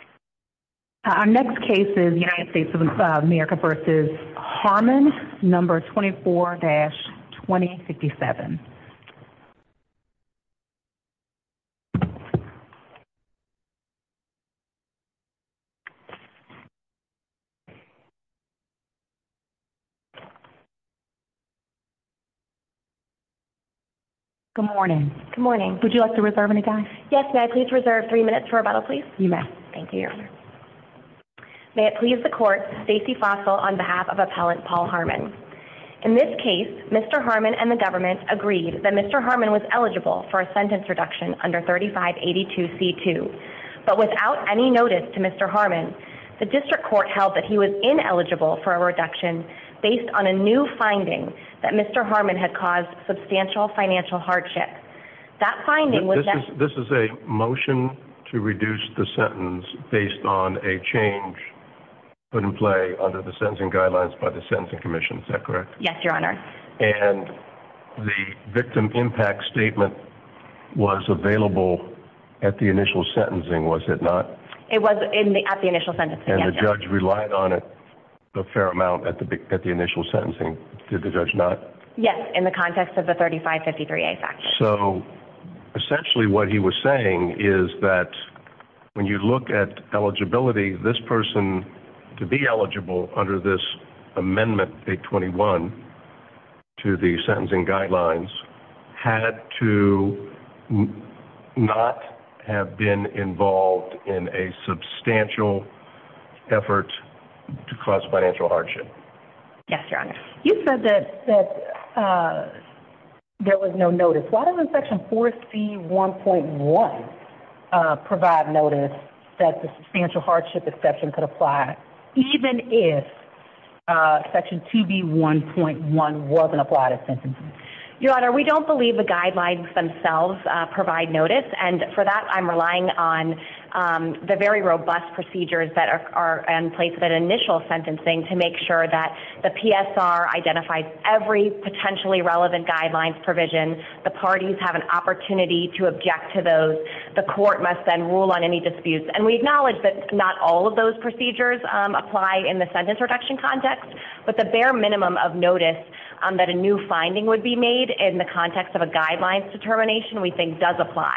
No. 24-2057 Good morning, would you like to reserve any time? Yes, may I please reserve three minutes for a bottle please? You may. Thank you, Your Honor. May it please the Court, Stacey Fossil on behalf of Appellant Paul Harmon. In this case, Mr. Harmon and the government agreed that Mr. Harmon was eligible for a sentence reduction under 3582C2. But without any notice to Mr. Harmon, the District Court held that he was ineligible for a reduction based on a new finding that Mr. Harmon had caused substantial financial hardship. This is a motion to reduce the sentence based on a change put in play under the sentencing guidelines by the Sentencing Commission, is that correct? Yes, Your Honor. And the victim impact statement was available at the initial sentencing, was it not? It was at the initial sentencing, yes. And the judge relied on it a fair amount at the initial sentencing, did the judge not? Yes, in the context of the 3553A fact sheet. So essentially what he was saying is that when you look at eligibility, this person to be eligible under this amendment, 821, to the sentencing guidelines, had to not have been involved in a substantial effort to cause financial hardship. Yes, Your Honor. You said that there was no notice. Why doesn't Section 4C1.1 provide notice that the substantial hardship exception could apply, even if Section 2B1.1 wasn't applied at sentencing? Your Honor, we don't believe the guidelines themselves provide notice, and for that I'm relying on the very robust procedures that are in place at initial sentencing to make sure that the PSR identifies every potentially relevant guidelines provision, the parties have an opportunity to object to those, the court must then rule on any disputes. And we acknowledge that not all of those procedures apply in the sentence reduction context, but the bare minimum of notice that a new finding would be made in the context of a guidelines determination we think does apply.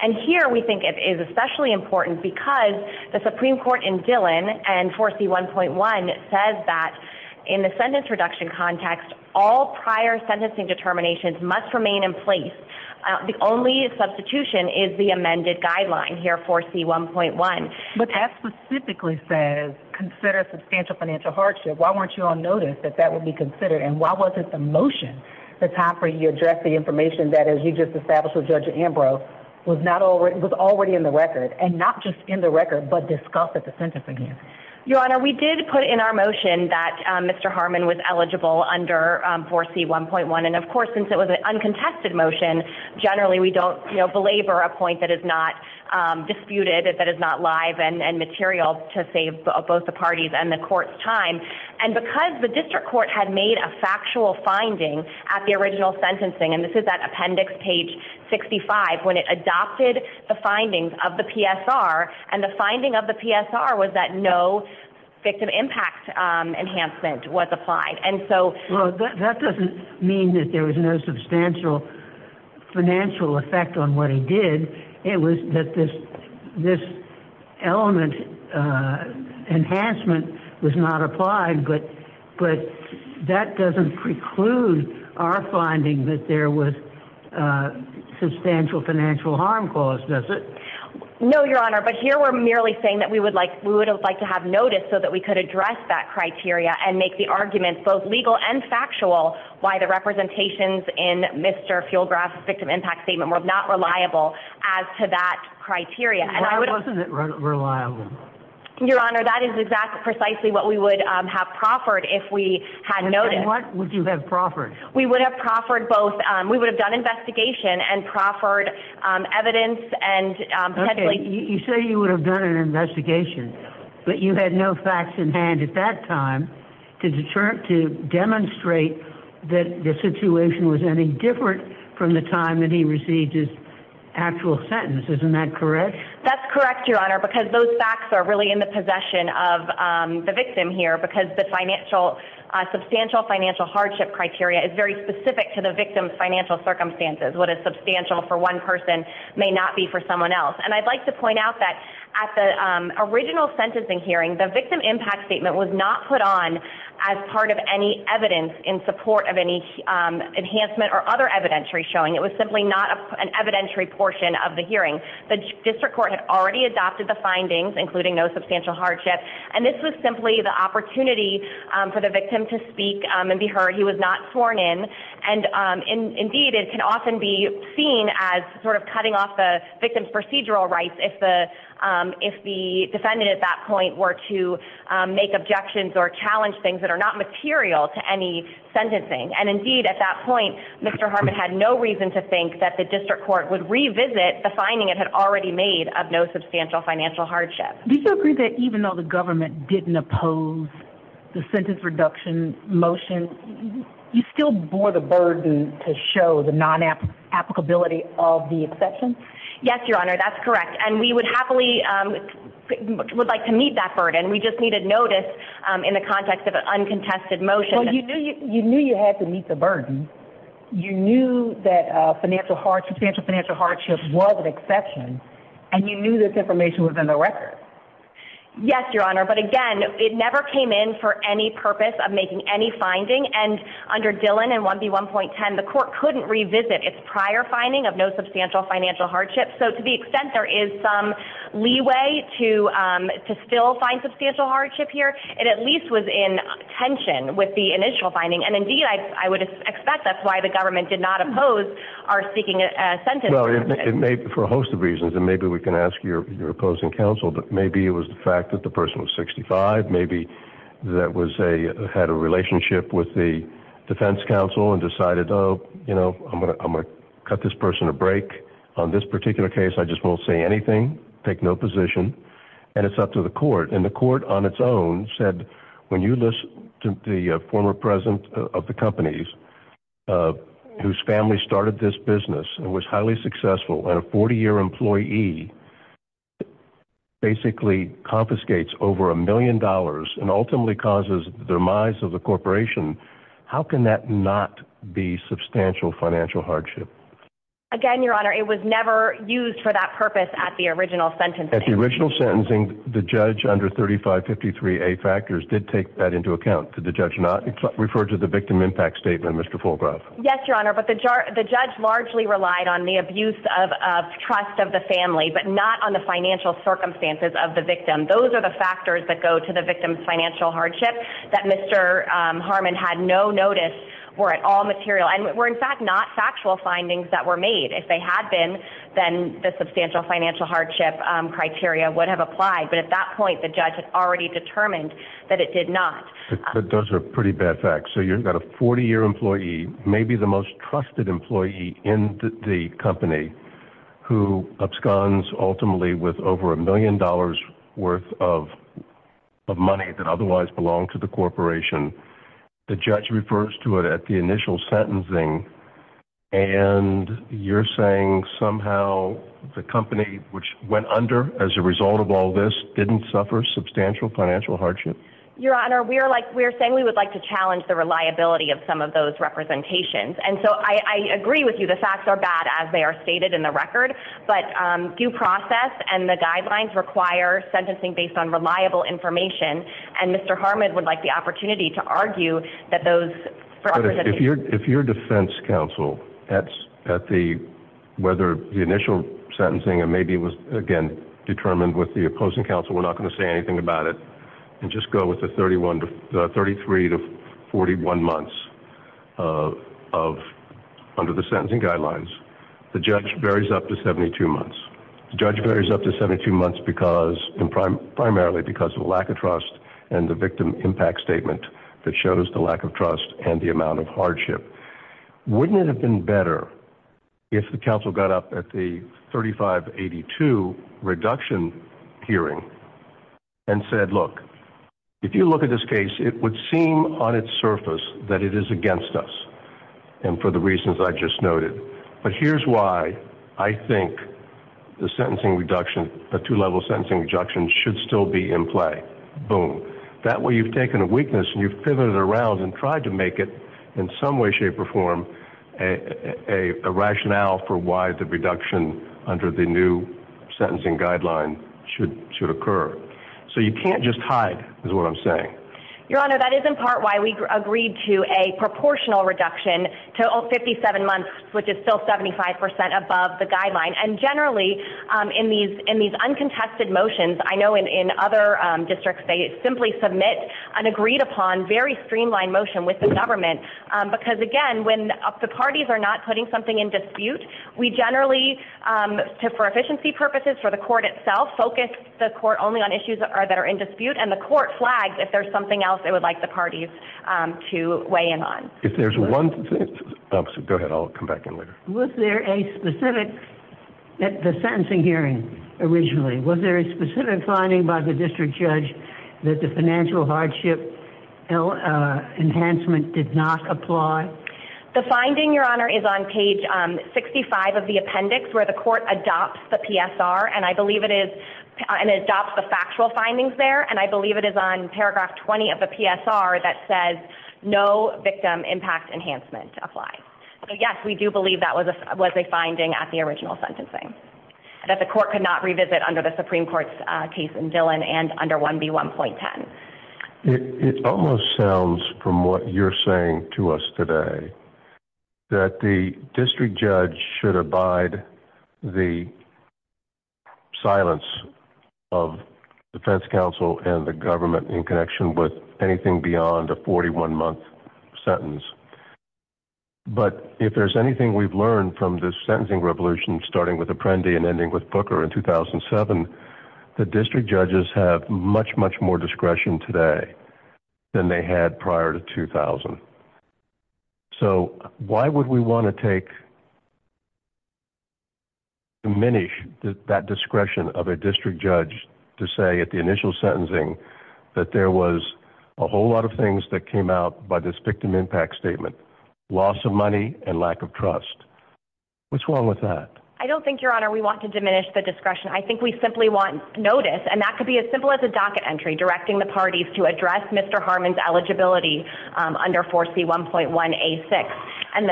And here we think it is especially important because the Supreme Court in Dillon and 4C1.1 says that in the sentence reduction context, all prior sentencing determinations must remain in place. The only substitution is the amended guideline here, 4C1.1. But that specifically says, consider substantial financial hardship. Why weren't you on notice that that would be considered, and why wasn't the motion, the time for you to address the information that you just established with Judge Ambrose, was already in the record, and not just in the record, but discussed at the sentence again? Your Honor, we did put in our motion that Mr. Harmon was eligible under 4C1.1, and of course, since it was an uncontested motion, generally we don't belabor a point that is not disputed, that is not live and material to save both the parties and the court's time. And because the district court had made a factual finding at the original sentencing, and this is that appendix, page 65, when it adopted the findings of the PSR, and the finding of the PSR was that no victim impact enhancement was applied. Well, that doesn't mean that there was no substantial financial effect on what he did. It was that this element, enhancement, was not applied, but that doesn't preclude our finding that there was substantial financial harm caused, does it? No, Your Honor, but here we're merely saying that we would like to have notice so that we could address that criteria and make the argument, both legal and factual, why the representations in Mr. Feulgraf's victim impact statement were not reliable as to that criteria. Why wasn't it reliable? Your Honor, that is precisely what we would have proffered if we had noticed. And what would you have proffered? We would have proffered both, we would have done investigation and proffered evidence and potentially... Okay, you say you would have done an investigation, but you had no facts in hand at that time to demonstrate that the situation was any different from the time that he received his actual sentence. Isn't that correct? That's correct, Your Honor, because those facts are really in the possession of the victim here because the substantial financial hardship criteria is very specific to the victim's financial circumstances. What is substantial for one person may not be for someone else. And I'd like to point out that at the original sentencing hearing, the victim impact statement was not put on as part of any evidence in support of any enhancement or other evidentiary showing. It was simply not an evidentiary portion of the hearing. The district court had already adopted the findings, including no substantial hardship, and this was simply the opportunity for the victim to speak and be heard. He was not sworn in. And, indeed, it can often be seen as sort of cutting off the victim's procedural rights if the defendant at that point were to make objections or challenge things that are not material to any sentencing. And, indeed, at that point, Mr. Harmon had no reason to think that the district court would revisit the finding it had already made of no substantial financial hardship. Do you agree that even though the government didn't oppose the sentence reduction motion, you still bore the burden to show the non-applicability of the exception? Yes, Your Honor, that's correct. And we would happily would like to meet that burden. We just needed notice in the context of an uncontested motion. Well, you knew you had to meet the burden. You knew that substantial financial hardship was an exception, and you knew this information was in the record. Yes, Your Honor, but, again, it never came in for any purpose of making any finding, and under Dillon and 1B1.10, the court couldn't revisit its prior finding of no substantial financial hardship. So, to the extent there is some leeway to still find substantial hardship here, it at least was in tension with the initial finding, and, indeed, I would expect that's why the government did not oppose our seeking a sentence reduction. Well, it may be for a host of reasons, and maybe we can ask your opposing counsel, but maybe it was the fact that the person was 65, maybe that had a relationship with the defense counsel and decided, oh, you know, I'm going to cut this person a break. On this particular case, I just won't say anything, take no position, and it's up to the court. And the court on its own said, when you listen to the former president of the companies, whose family started this business and was highly successful, and a 40-year employee basically confiscates over $1 million and ultimately causes the demise of the corporation, how can that not be substantial financial hardship? Again, Your Honor, it was never used for that purpose at the original sentencing. At the original sentencing, the judge under 3553A factors did take that into account. Did the judge not refer to the victim impact statement, Mr. Fulgrove? Yes, Your Honor, but the judge largely relied on the abuse of trust of the family, but not on the financial circumstances of the victim. Those are the factors that go to the victim's financial hardship that Mr. Harmon had no notice were at all material and were, in fact, not factual findings that were made. If they had been, then the substantial financial hardship criteria would have applied. But at that point, the judge had already determined that it did not. Those are pretty bad facts. So you've got a 40-year employee, maybe the most trusted employee in the company, who absconds ultimately with over $1 million worth of money that otherwise belonged to the corporation. The judge refers to it at the initial sentencing, and you're saying somehow the company, which went under as a result of all this, didn't suffer substantial financial hardship? Your Honor, we are saying we would like to challenge the reliability of some of those representations. And so I agree with you. The facts are bad, as they are stated in the record. But due process and the guidelines require sentencing based on reliable information, and Mr. Harmon would like the opportunity to argue that those representations— But if you're defense counsel, whether the initial sentencing, and maybe it was, again, determined with the opposing counsel, we're not going to say anything about it, and just go with the 33 to 41 months under the sentencing guidelines, the judge varies up to 72 months. The judge varies up to 72 months primarily because of lack of trust and the victim impact statement that shows the lack of trust and the amount of hardship. Wouldn't it have been better if the counsel got up at the 3582 reduction hearing and said, look, if you look at this case, it would seem on its surface that it is against us, and for the reasons I just noted. But here's why I think the sentencing reduction, the two-level sentencing reduction should still be in play. Boom. That way you've taken a weakness and you've pivoted around and tried to make it in some way, shape, or form a rationale for why the reduction under the new sentencing guideline should occur. So you can't just hide, is what I'm saying. Your Honor, that is in part why we agreed to a proportional reduction, total 57 months, which is still 75% above the guideline. And generally, in these uncontested motions, I know in other districts, they simply submit an agreed-upon, very streamlined motion with the government. Because, again, when the parties are not putting something in dispute, we generally, for efficiency purposes, for the court itself, focus the court only on issues that are in dispute, and the court flags if there's something else they would like the parties to weigh in on. If there's one thing. Go ahead, I'll come back in later. Was there a specific, at the sentencing hearing originally, was there a specific finding by the district judge that the financial hardship enhancement did not apply? The finding, Your Honor, is on page 65 of the appendix, where the court adopts the PSR, and I believe it is, and adopts the factual findings there, and I believe it is on paragraph 20 of the PSR that says, no victim impact enhancement applies. So, yes, we do believe that was a finding at the original sentencing, that the court could not revisit under the Supreme Court's case in Dillon, and under 1B1.10. It almost sounds, from what you're saying to us today, that the district judge should abide the silence of the defense counsel and the government in connection with anything beyond a 41-month sentence. But if there's anything we've learned from this sentencing revolution, starting with Apprendi and ending with Booker in 2007, the district judges have much, much more discretion today than they had prior to 2000. So why would we want to diminish that discretion of a district judge to say at the initial sentencing that there was a whole lot of things that came out by this victim impact statement, loss of money and lack of trust? What's wrong with that? I don't think, Your Honor, we want to diminish the discretion. I think we simply want notice, and that could be as simple as a docket entry directing the parties to address Mr. Harmon's eligibility under 4C1.1A6. And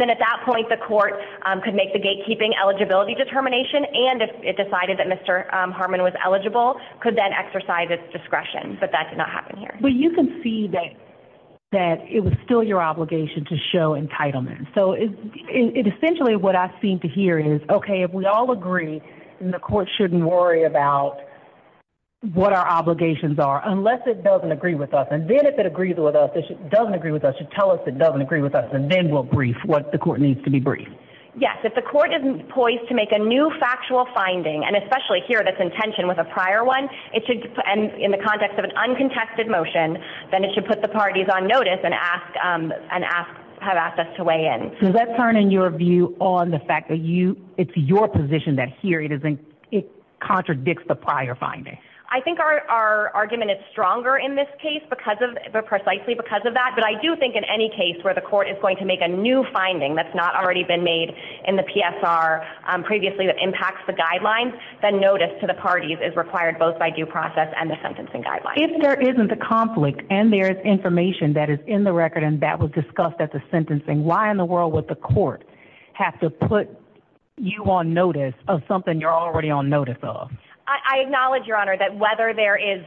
then at that point the court could make the gatekeeping eligibility determination and if it decided that Mr. Harmon was eligible, could then exercise its discretion. But that did not happen here. Well, you can see that it was still your obligation to show entitlement. So essentially what I seem to hear is, okay, if we all agree and the court shouldn't worry about what our obligations are, unless it doesn't agree with us. And then if it doesn't agree with us, it should tell us it doesn't agree with us, and then we'll brief what the court needs to be briefed. Yes. If the court isn't poised to make a new factual finding, and especially here that's in tension with a prior one, in the context of an uncontested motion, then it should put the parties on notice and have access to weigh in. So does that turn in your view on the fact that it's your position that here it contradicts the prior finding? I think our argument is stronger in this case precisely because of that. But I do think in any case where the court is going to make a new finding that's not already been made in the PSR previously that impacts the guidelines, then notice to the parties is required both by due process and the sentencing guidelines. If there isn't a conflict and there is information that is in the record and that was discussed at the sentencing, why in the world would the court have to put you on notice of something you're already on notice of? I acknowledge, Your Honor, that whether there is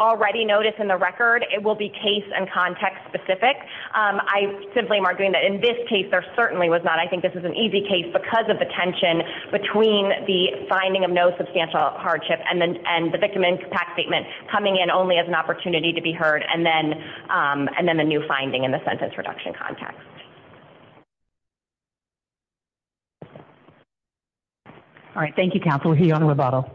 already notice in the record, it will be case and context specific. I simply am arguing that in this case there certainly was not. But I think this is an easy case because of the tension between the finding of no substantial hardship and the victim impact statement coming in only as an opportunity to be heard and then the new finding in the sentence reduction context. All right. Thank you, Counsel. We'll hear you on the rebuttal.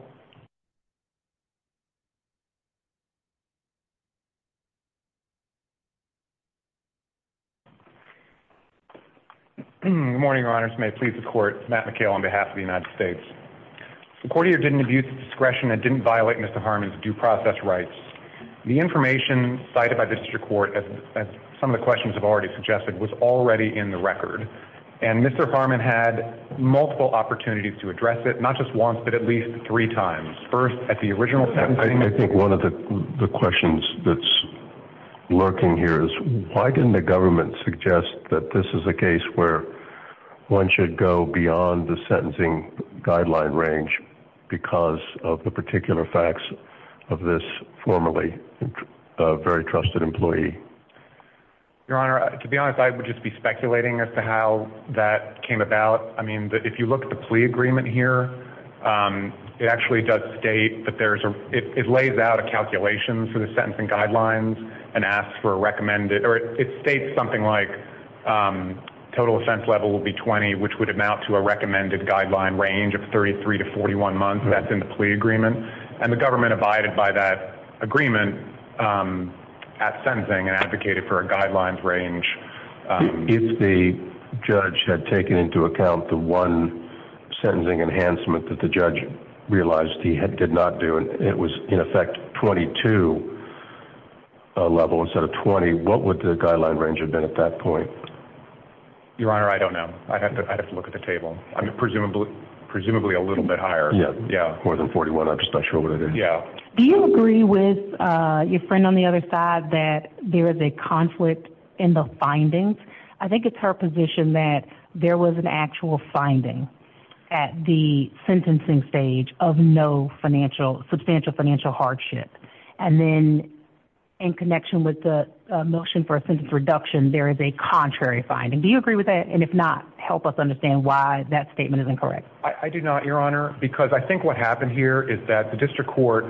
Good morning, Your Honors. May it please the Court. Matt McHale on behalf of the United States. The court here did an abuse of discretion and didn't violate Mr. Harmon's due process rights. The information cited by the district court, as some of the questions have already suggested, was already in the record. And Mr. Harmon had multiple opportunities to address it, not just once but at least three times. First, at the original sentencing. I think one of the questions that's lurking here is why didn't the government suggest that this is a case where one should go beyond the sentencing guideline range because of the particular facts of this formerly very trusted employee? Your Honor, to be honest, I would just be speculating as to how that came about. I mean, if you look at the plea agreement here, it actually does state that there's a – it lays out a calculation for the sentencing guidelines and asks for a recommended – or it states something like total offense level will be 20, which would amount to a recommended guideline range of 33 to 41 months. That's in the plea agreement. And the government abided by that agreement at sentencing and advocated for a guidelines range. If the judge had taken into account the one sentencing enhancement that the judge realized he did not do and it was in effect 22 level instead of 20, what would the guideline range have been at that point? Your Honor, I don't know. I'd have to look at the table. Presumably a little bit higher. Yeah, more than 41. I'm just not sure what it is. Yeah. Do you agree with your friend on the other side that there is a conflict in the findings? I think it's her position that there was an actual finding at the sentencing stage of no financial – substantial financial hardship. And then in connection with the motion for a sentence reduction, there is a contrary finding. Do you agree with that? And if not, help us understand why that statement is incorrect. I do not, Your Honor, because I think what happened here is that the district court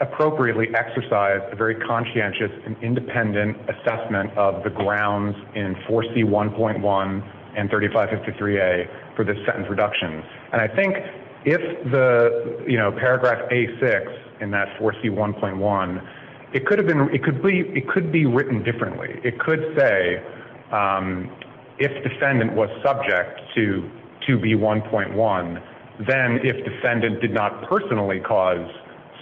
appropriately exercised a very conscientious and independent assessment of the grounds in 4C1.1 and 3553A for the sentence reduction. And I think if the paragraph A6 in that 4C1.1, it could be written differently. It could say, if defendant was subject to 2B1.1, then if defendant did not personally cause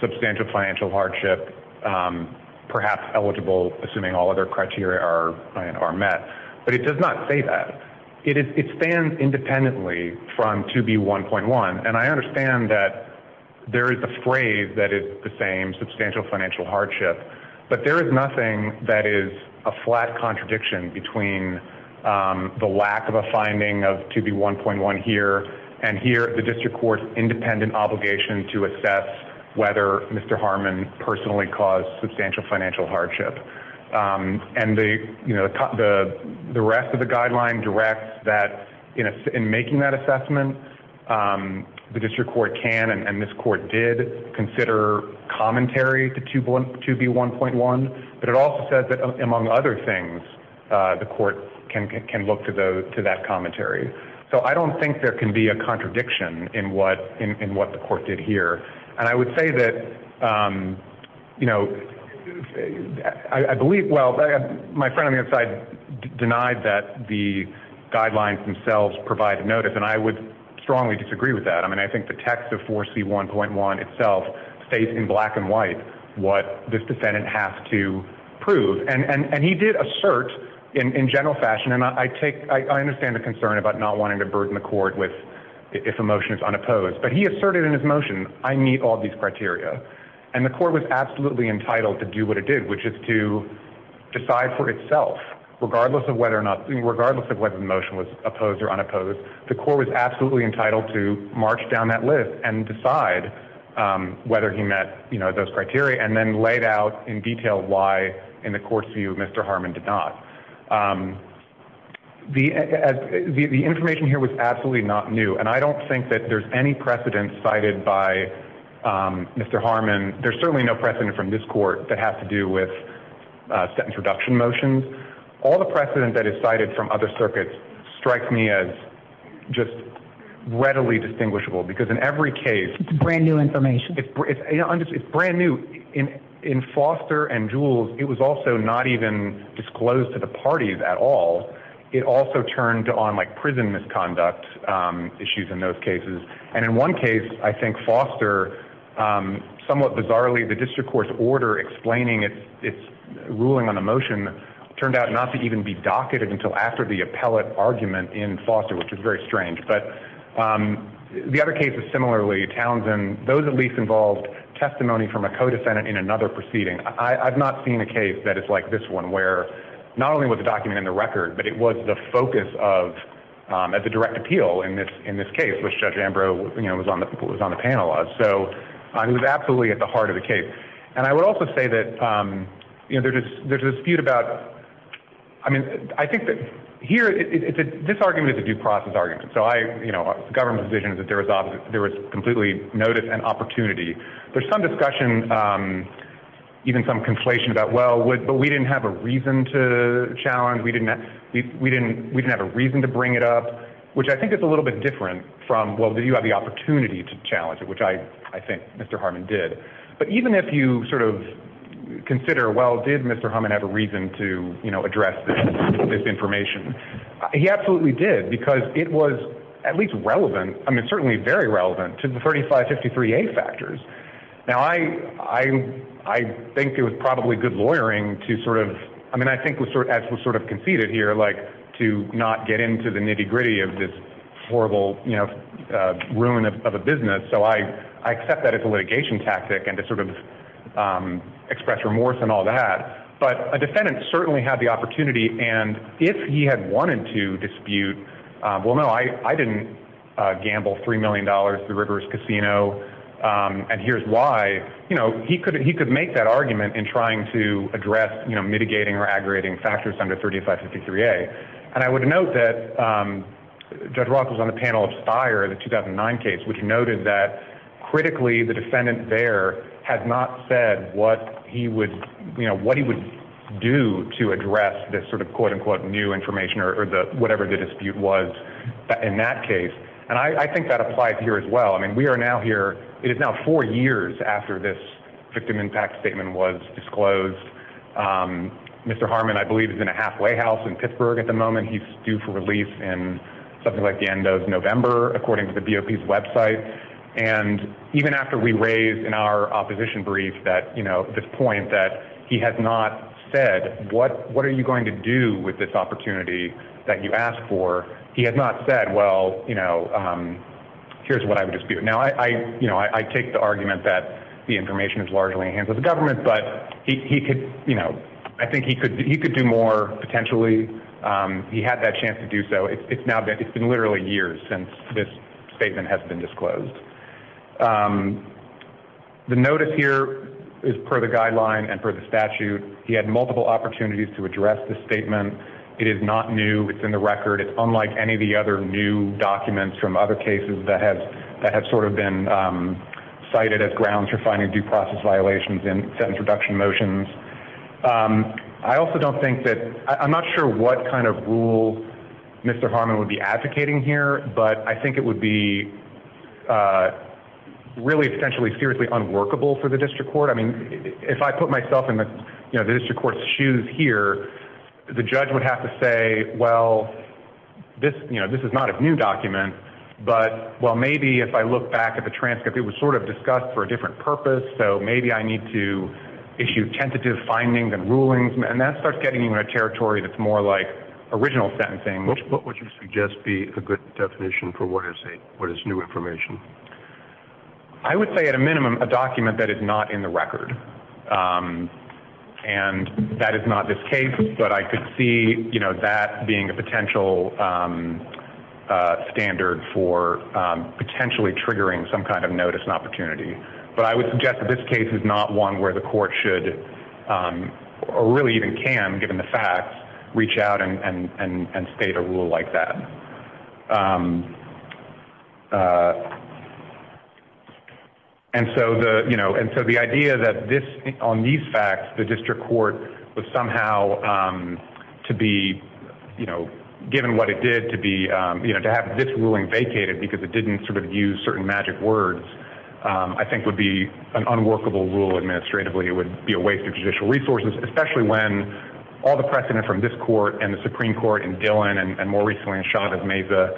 substantial financial hardship, perhaps eligible, assuming all other criteria are met. But it does not say that. It stands independently from 2B1.1. And I understand that there is a phrase that is the same, substantial financial hardship. But there is nothing that is a flat contradiction between the lack of a finding of 2B1.1 here and here, the district court's independent obligation to assess whether Mr. Harmon personally caused substantial financial hardship. And the rest of the guideline directs that in making that assessment, the district court can, and this court did consider commentary to 2B1.1, but it also said that among other things, the court can look to that commentary. So I don't think there can be a contradiction in what the court did here. And I would say that, you know, I believe, well, my friend on the other side denied that the guidelines themselves provided notice, and I would strongly disagree with that. I mean, I think the text of 4C1.1 itself states in black and white, what this defendant has to prove. And he did assert in general fashion. And I take, I understand the concern about not wanting to burden the court with if a motion is unopposed, but he asserted in his motion, I meet all these criteria. And the court was absolutely entitled to do what it did, which is to decide for itself, regardless of whether or not, regardless of whether the motion was opposed or unopposed, the court was absolutely entitled to march down that list and decide whether he met those criteria and then laid out in detail why in the court's view, Mr. Harmon did not. The information here was absolutely not new. And I don't think that there's any precedent cited by Mr. Harmon. There's certainly no precedent from this court that has to do with sentence reduction motions. All the precedent that is cited from other circuits strikes me as just readily distinguishable because in every case brand new information, it's brand new in, in foster and jewels. It was also not even disclosed to the parties at all. It also turned on like prison misconduct issues in those cases. And in one case, I think foster somewhat bizarrely, the district court's order explaining it, it's ruling on the motion turned out not to even be docketed until after the appellate argument in foster, which is very strange. But the other cases, similarly Townsend, those at least involved testimony from a co-descendant in another proceeding. I I've not seen a case that it's like this one, where not only was the document in the record, but it was the focus of as a direct appeal in this, in this case, which judge Ambrose was on the, was on the panel. So it was absolutely at the heart of the case. And I would also say that there's a dispute about, I mean, I think that here, this argument is a due process argument. So I, you know, government's vision is that there was obviously there was completely notice and opportunity. There's some discussion, even some conflation about, well, what, but we didn't have a reason to challenge. We didn't, we, we didn't, we didn't have a reason to bring it up, which I think is a little bit different from, well, did you have the opportunity to challenge it? Which I, I think Mr. Harmon did, but even if you sort of consider, well, did Mr. Harmon have a reason to address this information? He absolutely did because it was at least relevant. I mean, it's certainly very relevant to the 35, 53, eight factors. Now I, I, I think it was probably good lawyering to sort of, I mean, I think was sort of, as was sort of conceded here like to not get into the nitty gritty of this horrible ruin of a business. So I, I accept that as a litigation tactic and to sort of express remorse and all that, but a defendant certainly had the opportunity. And if he had wanted to dispute, well, no, I, I didn't gamble $3 million to the rivers casino. And here's why, you know, he could, he could make that argument in trying to address mitigating or aggregating factors under 35, 53 a. And I would note that judge Rock was on the panel of spire, the 2009 case, which noted that critically the defendant there has not said what he would, you know, what he would do to address this sort of quote unquote new information or the, whatever the dispute was in that case. And I think that applies here as well. I mean, we are now here. It is now four years after this victim impact statement was disclosed. Mr. Harmon, I believe he's in a halfway house in Pittsburgh at the moment. He's due for release and something like the end of November, according to the BOP website. And even after we raised in our opposition brief that, you know, this point that he has not said, what, what are you going to do with this opportunity that you asked for? He had not said, well, you know, here's what I would dispute. Now I, I, you know, I take the argument that the information is largely in the hands of the defendant. He could, you know, I think he could, he could do more potentially. He had that chance to do so. It's now been, it's been literally years since this statement has been disclosed. The notice here is per the guideline and for the statute, he had multiple opportunities to address the statement. It is not new. It's in the record. It's unlike any of the other new documents from other cases that have, that have sort of been cited as grounds for finding due process violations in sentence reduction motions. I also don't think that, I'm not sure what kind of rule Mr. Harmon would be advocating here, but I think it would be really essentially seriously unworkable for the district court. I mean, if I put myself in the, you know, the district court's shoes here, the judge would have to say, well, this, you know, this is not a new document, but well, maybe if I look back at the transcript, it was sort of discussed for a different purpose. So maybe I need to issue tentative findings and rulings and that starts getting into a territory that's more like original sentencing, which would you suggest be a good definition for what is a, what is new information? I would say at a minimum, a document that is not in the record. And that is not this case, but I could see, you know, that being a potential standard for potentially triggering some kind of notice and opportunity, but I would suggest that this case is not one where the court should or really even can given the facts reach out and, and, and, and state a rule like that. And so the, you know, and so the idea that this, on these facts, the district court was somehow to be, you know, given what it did to be, you know, to have this ruling vacated because it didn't sort of use certain magic words, um, I think would be an unworkable rule administratively. It would be a waste of judicial resources, especially when all the precedent from this court and the Supreme court and Dylan and more recently in shot of Mesa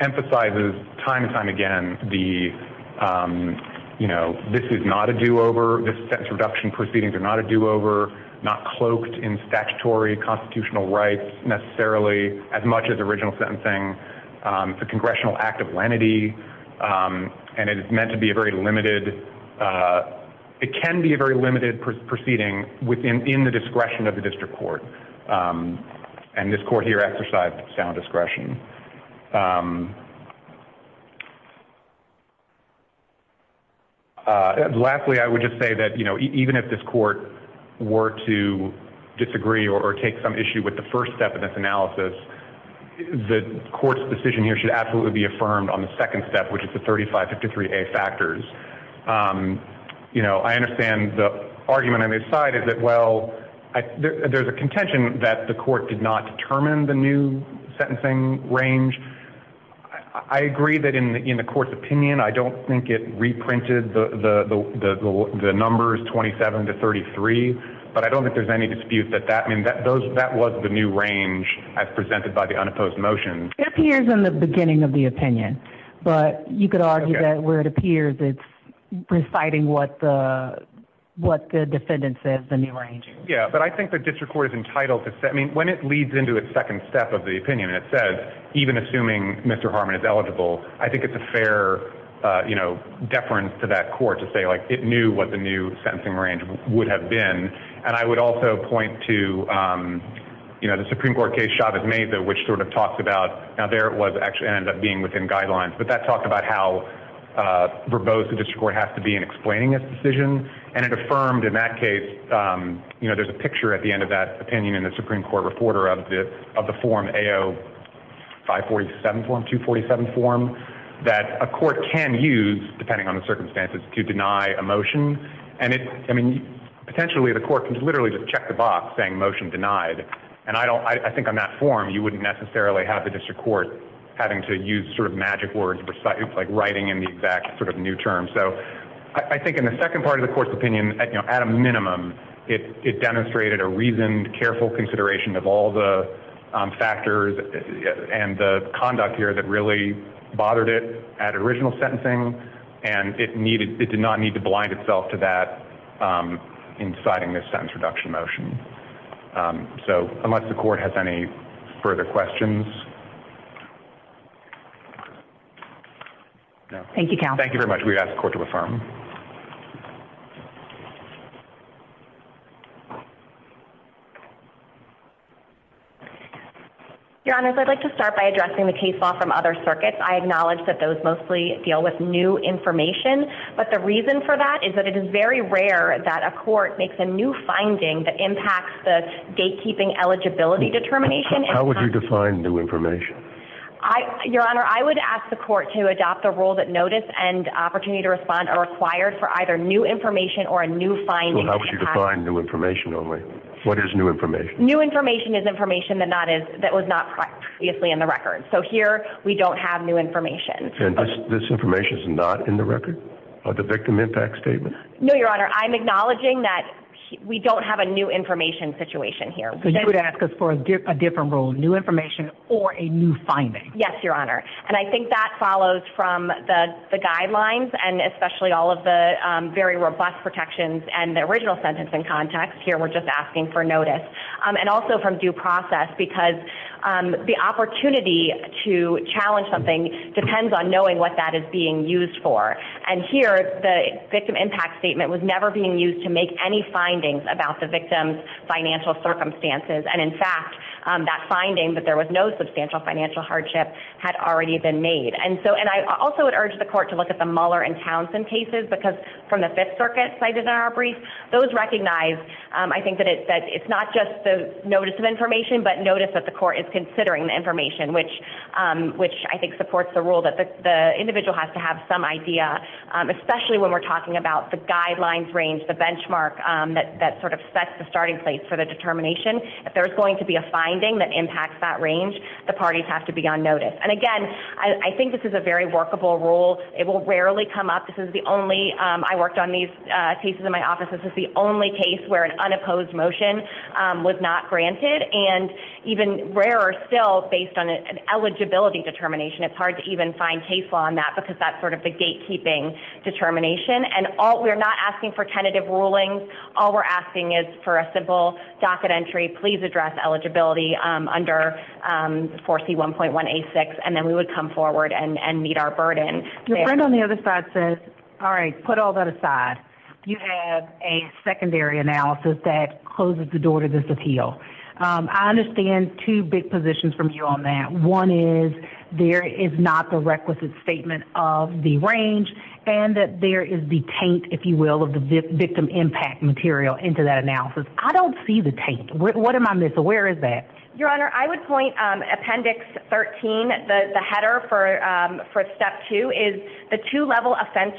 emphasizes time and time again, the, um, you know, this is not a do-over, this sentence reduction proceedings are not a do-over, not cloaked in statutory constitutional rights necessarily as much as the congressional act of lenity. Um, and it is meant to be a very limited, uh, it can be a very limited proceeding within, in the discretion of the district court. Um, and this court here exercised sound discretion. Um, Uh, lastly, I would just say that, you know, even if this court were to disagree or take some issue with the first step of this analysis, the court's decision here should absolutely be affirmed on the second step, which is the 35 53 a factors. Um, you know, I understand the argument on his side is that, well, I, there, there's a contention that the court did not determine the new sentencing range. I agree that in the, in the court's opinion, I don't think it reprinted the, the, the, the, the, the numbers 27 to 33, but I don't think there's any dispute that, that, I mean, that those, that was the new range as presented by the unopposed motion. It appears in the beginning of the opinion, but you could argue that where it appears it's reciting what the, what the defendants said, the new range. Yeah. But I think the district court is entitled to say, I mean, when it leads into its second step of the opinion and it says, even assuming Mr. Harmon is eligible, I think it's a fair, uh, you know, deference to that court to say like it knew what the new sentencing range would have been. And I would also point to, um, you know, the Supreme court case shop is made though, which sort of talks about, now, there it was actually ended up being within guidelines, but that talked about how, uh, verbose the district court has to be in explaining this decision. And it affirmed in that case, um, you know, there's a picture at the end of that opinion in the Supreme court reporter of the, of the form AO five 47 form, two 47 form that a court can use depending on the circumstances to deny emotion. And it, I mean, potentially the court can literally just check the box saying motion denied. And I don't, I think on that form, you wouldn't necessarily have the district court having to use sort of magic words, like writing in the exact sort of new term. So I think in the second part of the court's opinion at a minimum, it, it demonstrated a reasoned careful consideration of all the factors and the conduct here that really bothered it at original sentencing. And it needed, it did not need to blind itself to that, um, inciting this sentence reduction motion. Um, so unless the court has any further questions. Thank you. Thank you very much. We've asked the court to affirm. Your honors. I'd like to start by addressing the case law from other circuits. I acknowledge that those mostly deal with new information, but the reason for that is that it is very rare that a court makes a new finding that impacts the gatekeeping eligibility determination. How would you define new information? I, your honor, I would ask the court to adopt the rule that notice and opportunity to respond are required for either new information or a new finding. How would you define new information only? What is new information? New information is information that not is that was not previously in the record of the victim impact statement. No, your honor. I'm acknowledging that we don't have a new information situation here, but you would ask us for a different role, new information or a new finding. Yes, your honor. And I think that follows from the guidelines and especially all of the, um, very robust protections and the original sentence in context here, we're just asking for notice. Um, and also from due process because, um, the opportunity to challenge something depends on knowing what that is being used for. And here the victim impact statement was never being used to make any findings about the victim's financial circumstances. And in fact, um, that finding that there was no substantial financial hardship had already been made. And so, and I also would urge the court to look at the Muller and Townsend cases because from the fifth circuit I did in our brief, those recognize, um, I think that it, that it's not just the notice of information, but notice that the court is considering the information, which, um, which I think supports the rule that the individual has to have some idea. Um, especially when we're talking about the guidelines range, the benchmark, um, that, that sort of sets the starting place for the determination. If there's going to be a finding that impacts that range, the parties have to be on notice. And again, I think this is a very workable rule. It will rarely come up. This is the only, um, I worked on these cases in my office. This is the only case where an unopposed motion, um, was not granted and even rarer still based on an eligibility determination. It's hard to even find case law on that because that's sort of the gatekeeping determination and all we're not asking for tentative rulings. All we're asking is for a simple docket entry, please address eligibility, um, under, um, 4C1.186. And then we would come forward and meet our burden. Your friend on the other side says, all right, put all that aside. You have a secondary analysis that closes the door to this appeal. Um, I understand two big positions from you on that. One is there is not the requisite statement of the range and that there is the taint, if you will, of the victim impact material into that analysis. I don't see the taint. What am I missing? Where is that? Your Honor, I would point, um, appendix 13, the header for, um, for step two is the two level offense,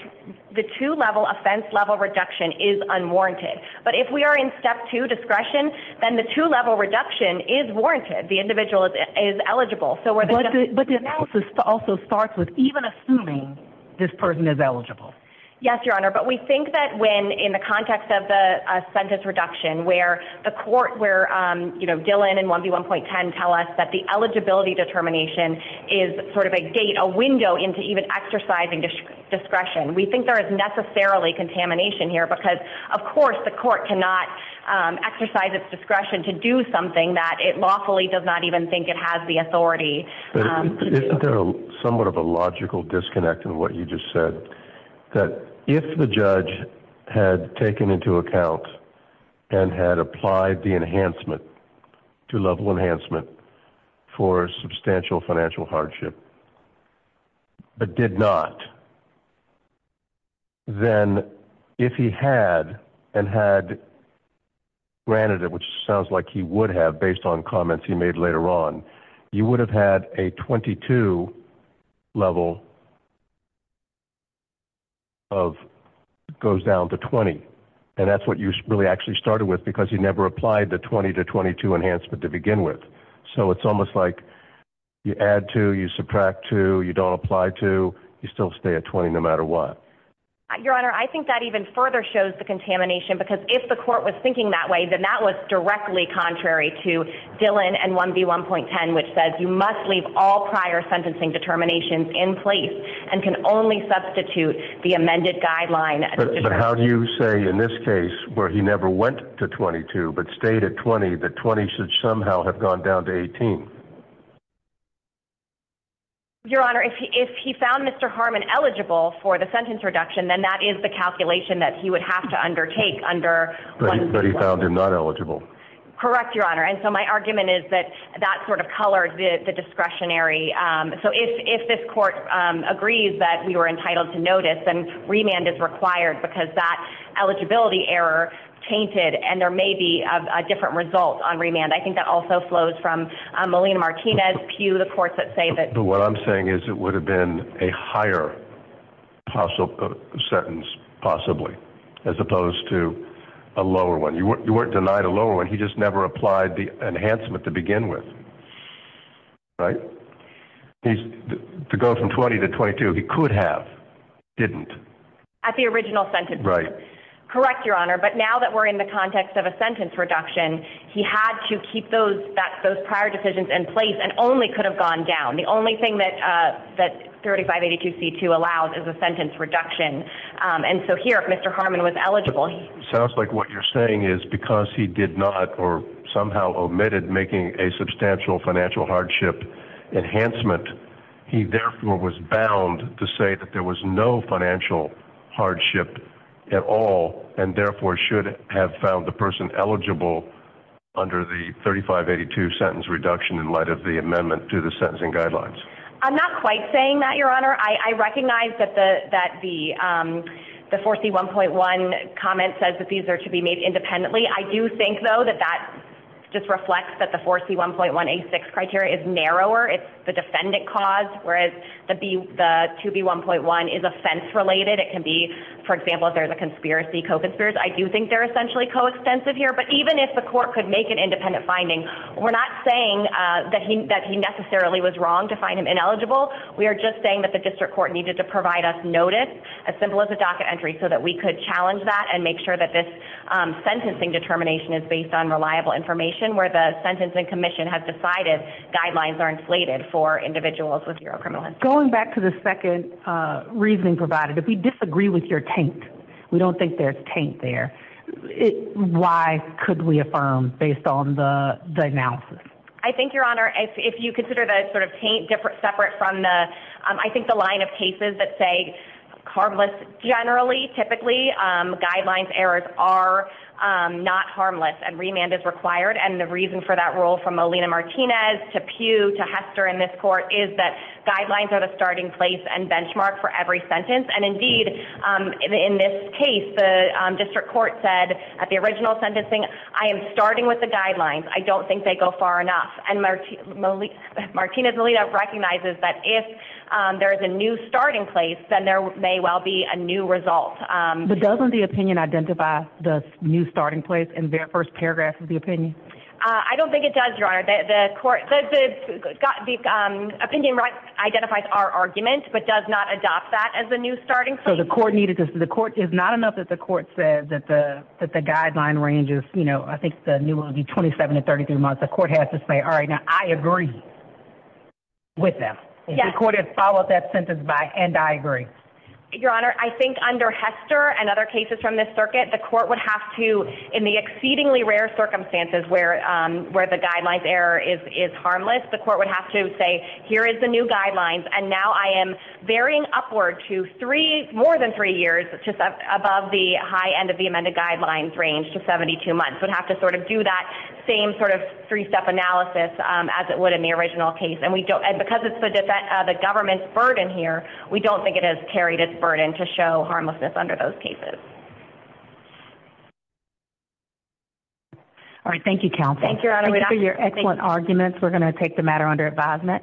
the two level offense level reduction is unwarranted. But if we are in step two discretion, then the two level reduction is warranted. The individual is eligible. But the analysis also starts with even assuming this person is eligible. Yes, Your Honor. But we think that when in the context of the, uh, sentence reduction where the court where, um, you know, Dylan and 1B1.10 tell us that the eligibility determination is sort of a window into even exercising discretion. We think there is necessarily contamination here because of course the court cannot, um, exercise its discretion to do something that it lawfully does not even think it has the authority. Somewhat of a logical disconnect in what you just said that if the judge had taken into account and had applied the enhancement to level enhancement for substantial financial hardship, but did not, then if he had and had granted it, which sounds like he would have based on comments he made later on, you would have had a 22 level of goes down to 20. And that's what you really actually started with because he never applied the 20 to 22 enhancement to begin with. So it's almost like you add to, you subtract two, you don't apply to, you still stay at 20 no matter what. Your Honor. I think that even further shows the contamination, because if the court was thinking that way, then that was directly contrary to Dylan and 1B1.10, which says you must leave all prior sentencing determinations in place and can only substitute the amended guideline. But how do you say in this case where he never went to 22, but stayed at 20, the 20 should somehow have gone down to 18. Your Honor. If he found Mr. Harmon eligible for the sentence reduction, then that is the calculation that he would have to undertake under. But he found him not eligible. Correct, Your Honor. And so my argument is that that sort of colored the discretionary. So if this court agrees that we were entitled to notice and remand is the error tainted and there may be a different result on remand, I think that also flows from Molina-Martinez, Pew, the courts that say that. But what I'm saying is it would have been a higher sentence possibly, as opposed to a lower one. You weren't denied a lower one, he just never applied the enhancement to begin with, right? To go from 20 to 22, he could have, didn't. At the original sentence. Right. Correct, Your Honor. But now that we're in the context of a sentence reduction, he had to keep those prior decisions in place and only could have gone down. The only thing that 3582C2 allows is a sentence reduction. And so here, if Mr. Harmon was eligible. It sounds like what you're saying is because he did not or somehow omitted making a substantial financial hardship enhancement, he therefore was bound to say that there was no financial hardship at all and therefore should have found the person eligible under the 3582 sentence reduction in light of the amendment to the sentencing guidelines. I'm not quite saying that, Your Honor. I recognize that the 4C1.1 comment says that these are to be made independently. I do think, though, that that just reflects that the 4C1.1A6 criteria is narrower. It's the defendant cause, whereas the 2B1.1 is offense related. It can be, for example, if there's a conspiracy, co-conspiracy. I do think they're essentially co-extensive here. But even if the court could make an independent finding, we're not saying that he necessarily was wrong to find him ineligible. We are just saying that the district court needed to provide us notice, as simple as a docket entry, so that we could challenge that and make sure that this sentencing determination is based on reliable information where the sentencing commission has decided guidelines are inflated for individuals with zero criminal history. Going back to the second reasoning provided, if we disagree with your taint, we don't think there's taint there, why could we affirm based on the analysis? I think, Your Honor, if you consider the sort of taint separate from the – I think the line of cases that say harmless generally, typically guidelines errors are not harmless and remand is required. And the reason for that rule from Molina-Martinez to Pew to Hester in this court is that guidelines are the starting place and benchmark for every sentence. And, indeed, in this case, the district court said at the original sentencing, I am starting with the guidelines. I don't think they go far enough. And Martinez-Molina recognizes that if there is a new starting place, then there may well be a new result. But doesn't the opinion identify the new starting place in the first paragraph of the opinion? I don't think it does, Your Honor. The opinion identifies our argument but does not adopt that as the new starting place. So the court is not enough that the court says that the guideline ranges, you know, I think the new one would be 27 to 33 months. The court has to say, all right, now I agree with them. The court has followed that sentence and I agree. Your Honor, I think under Hester and other cases from this circuit, the court would have to, in the exceedingly rare circumstances where the guideline's error is harmless, the court would have to say here is the new guidelines and now I am varying upward to more than three years above the high end of the amended guidelines range to 72 months. We'd have to sort of do that same sort of three-step analysis as it would in the original case. And because it's the government's burden here, we don't think it has carried its burden to show harmlessness under those cases. All right. Thank you, counsel. Thank you, Your Honor. Thank you for your excellent arguments. We're going to take the matter under advisement.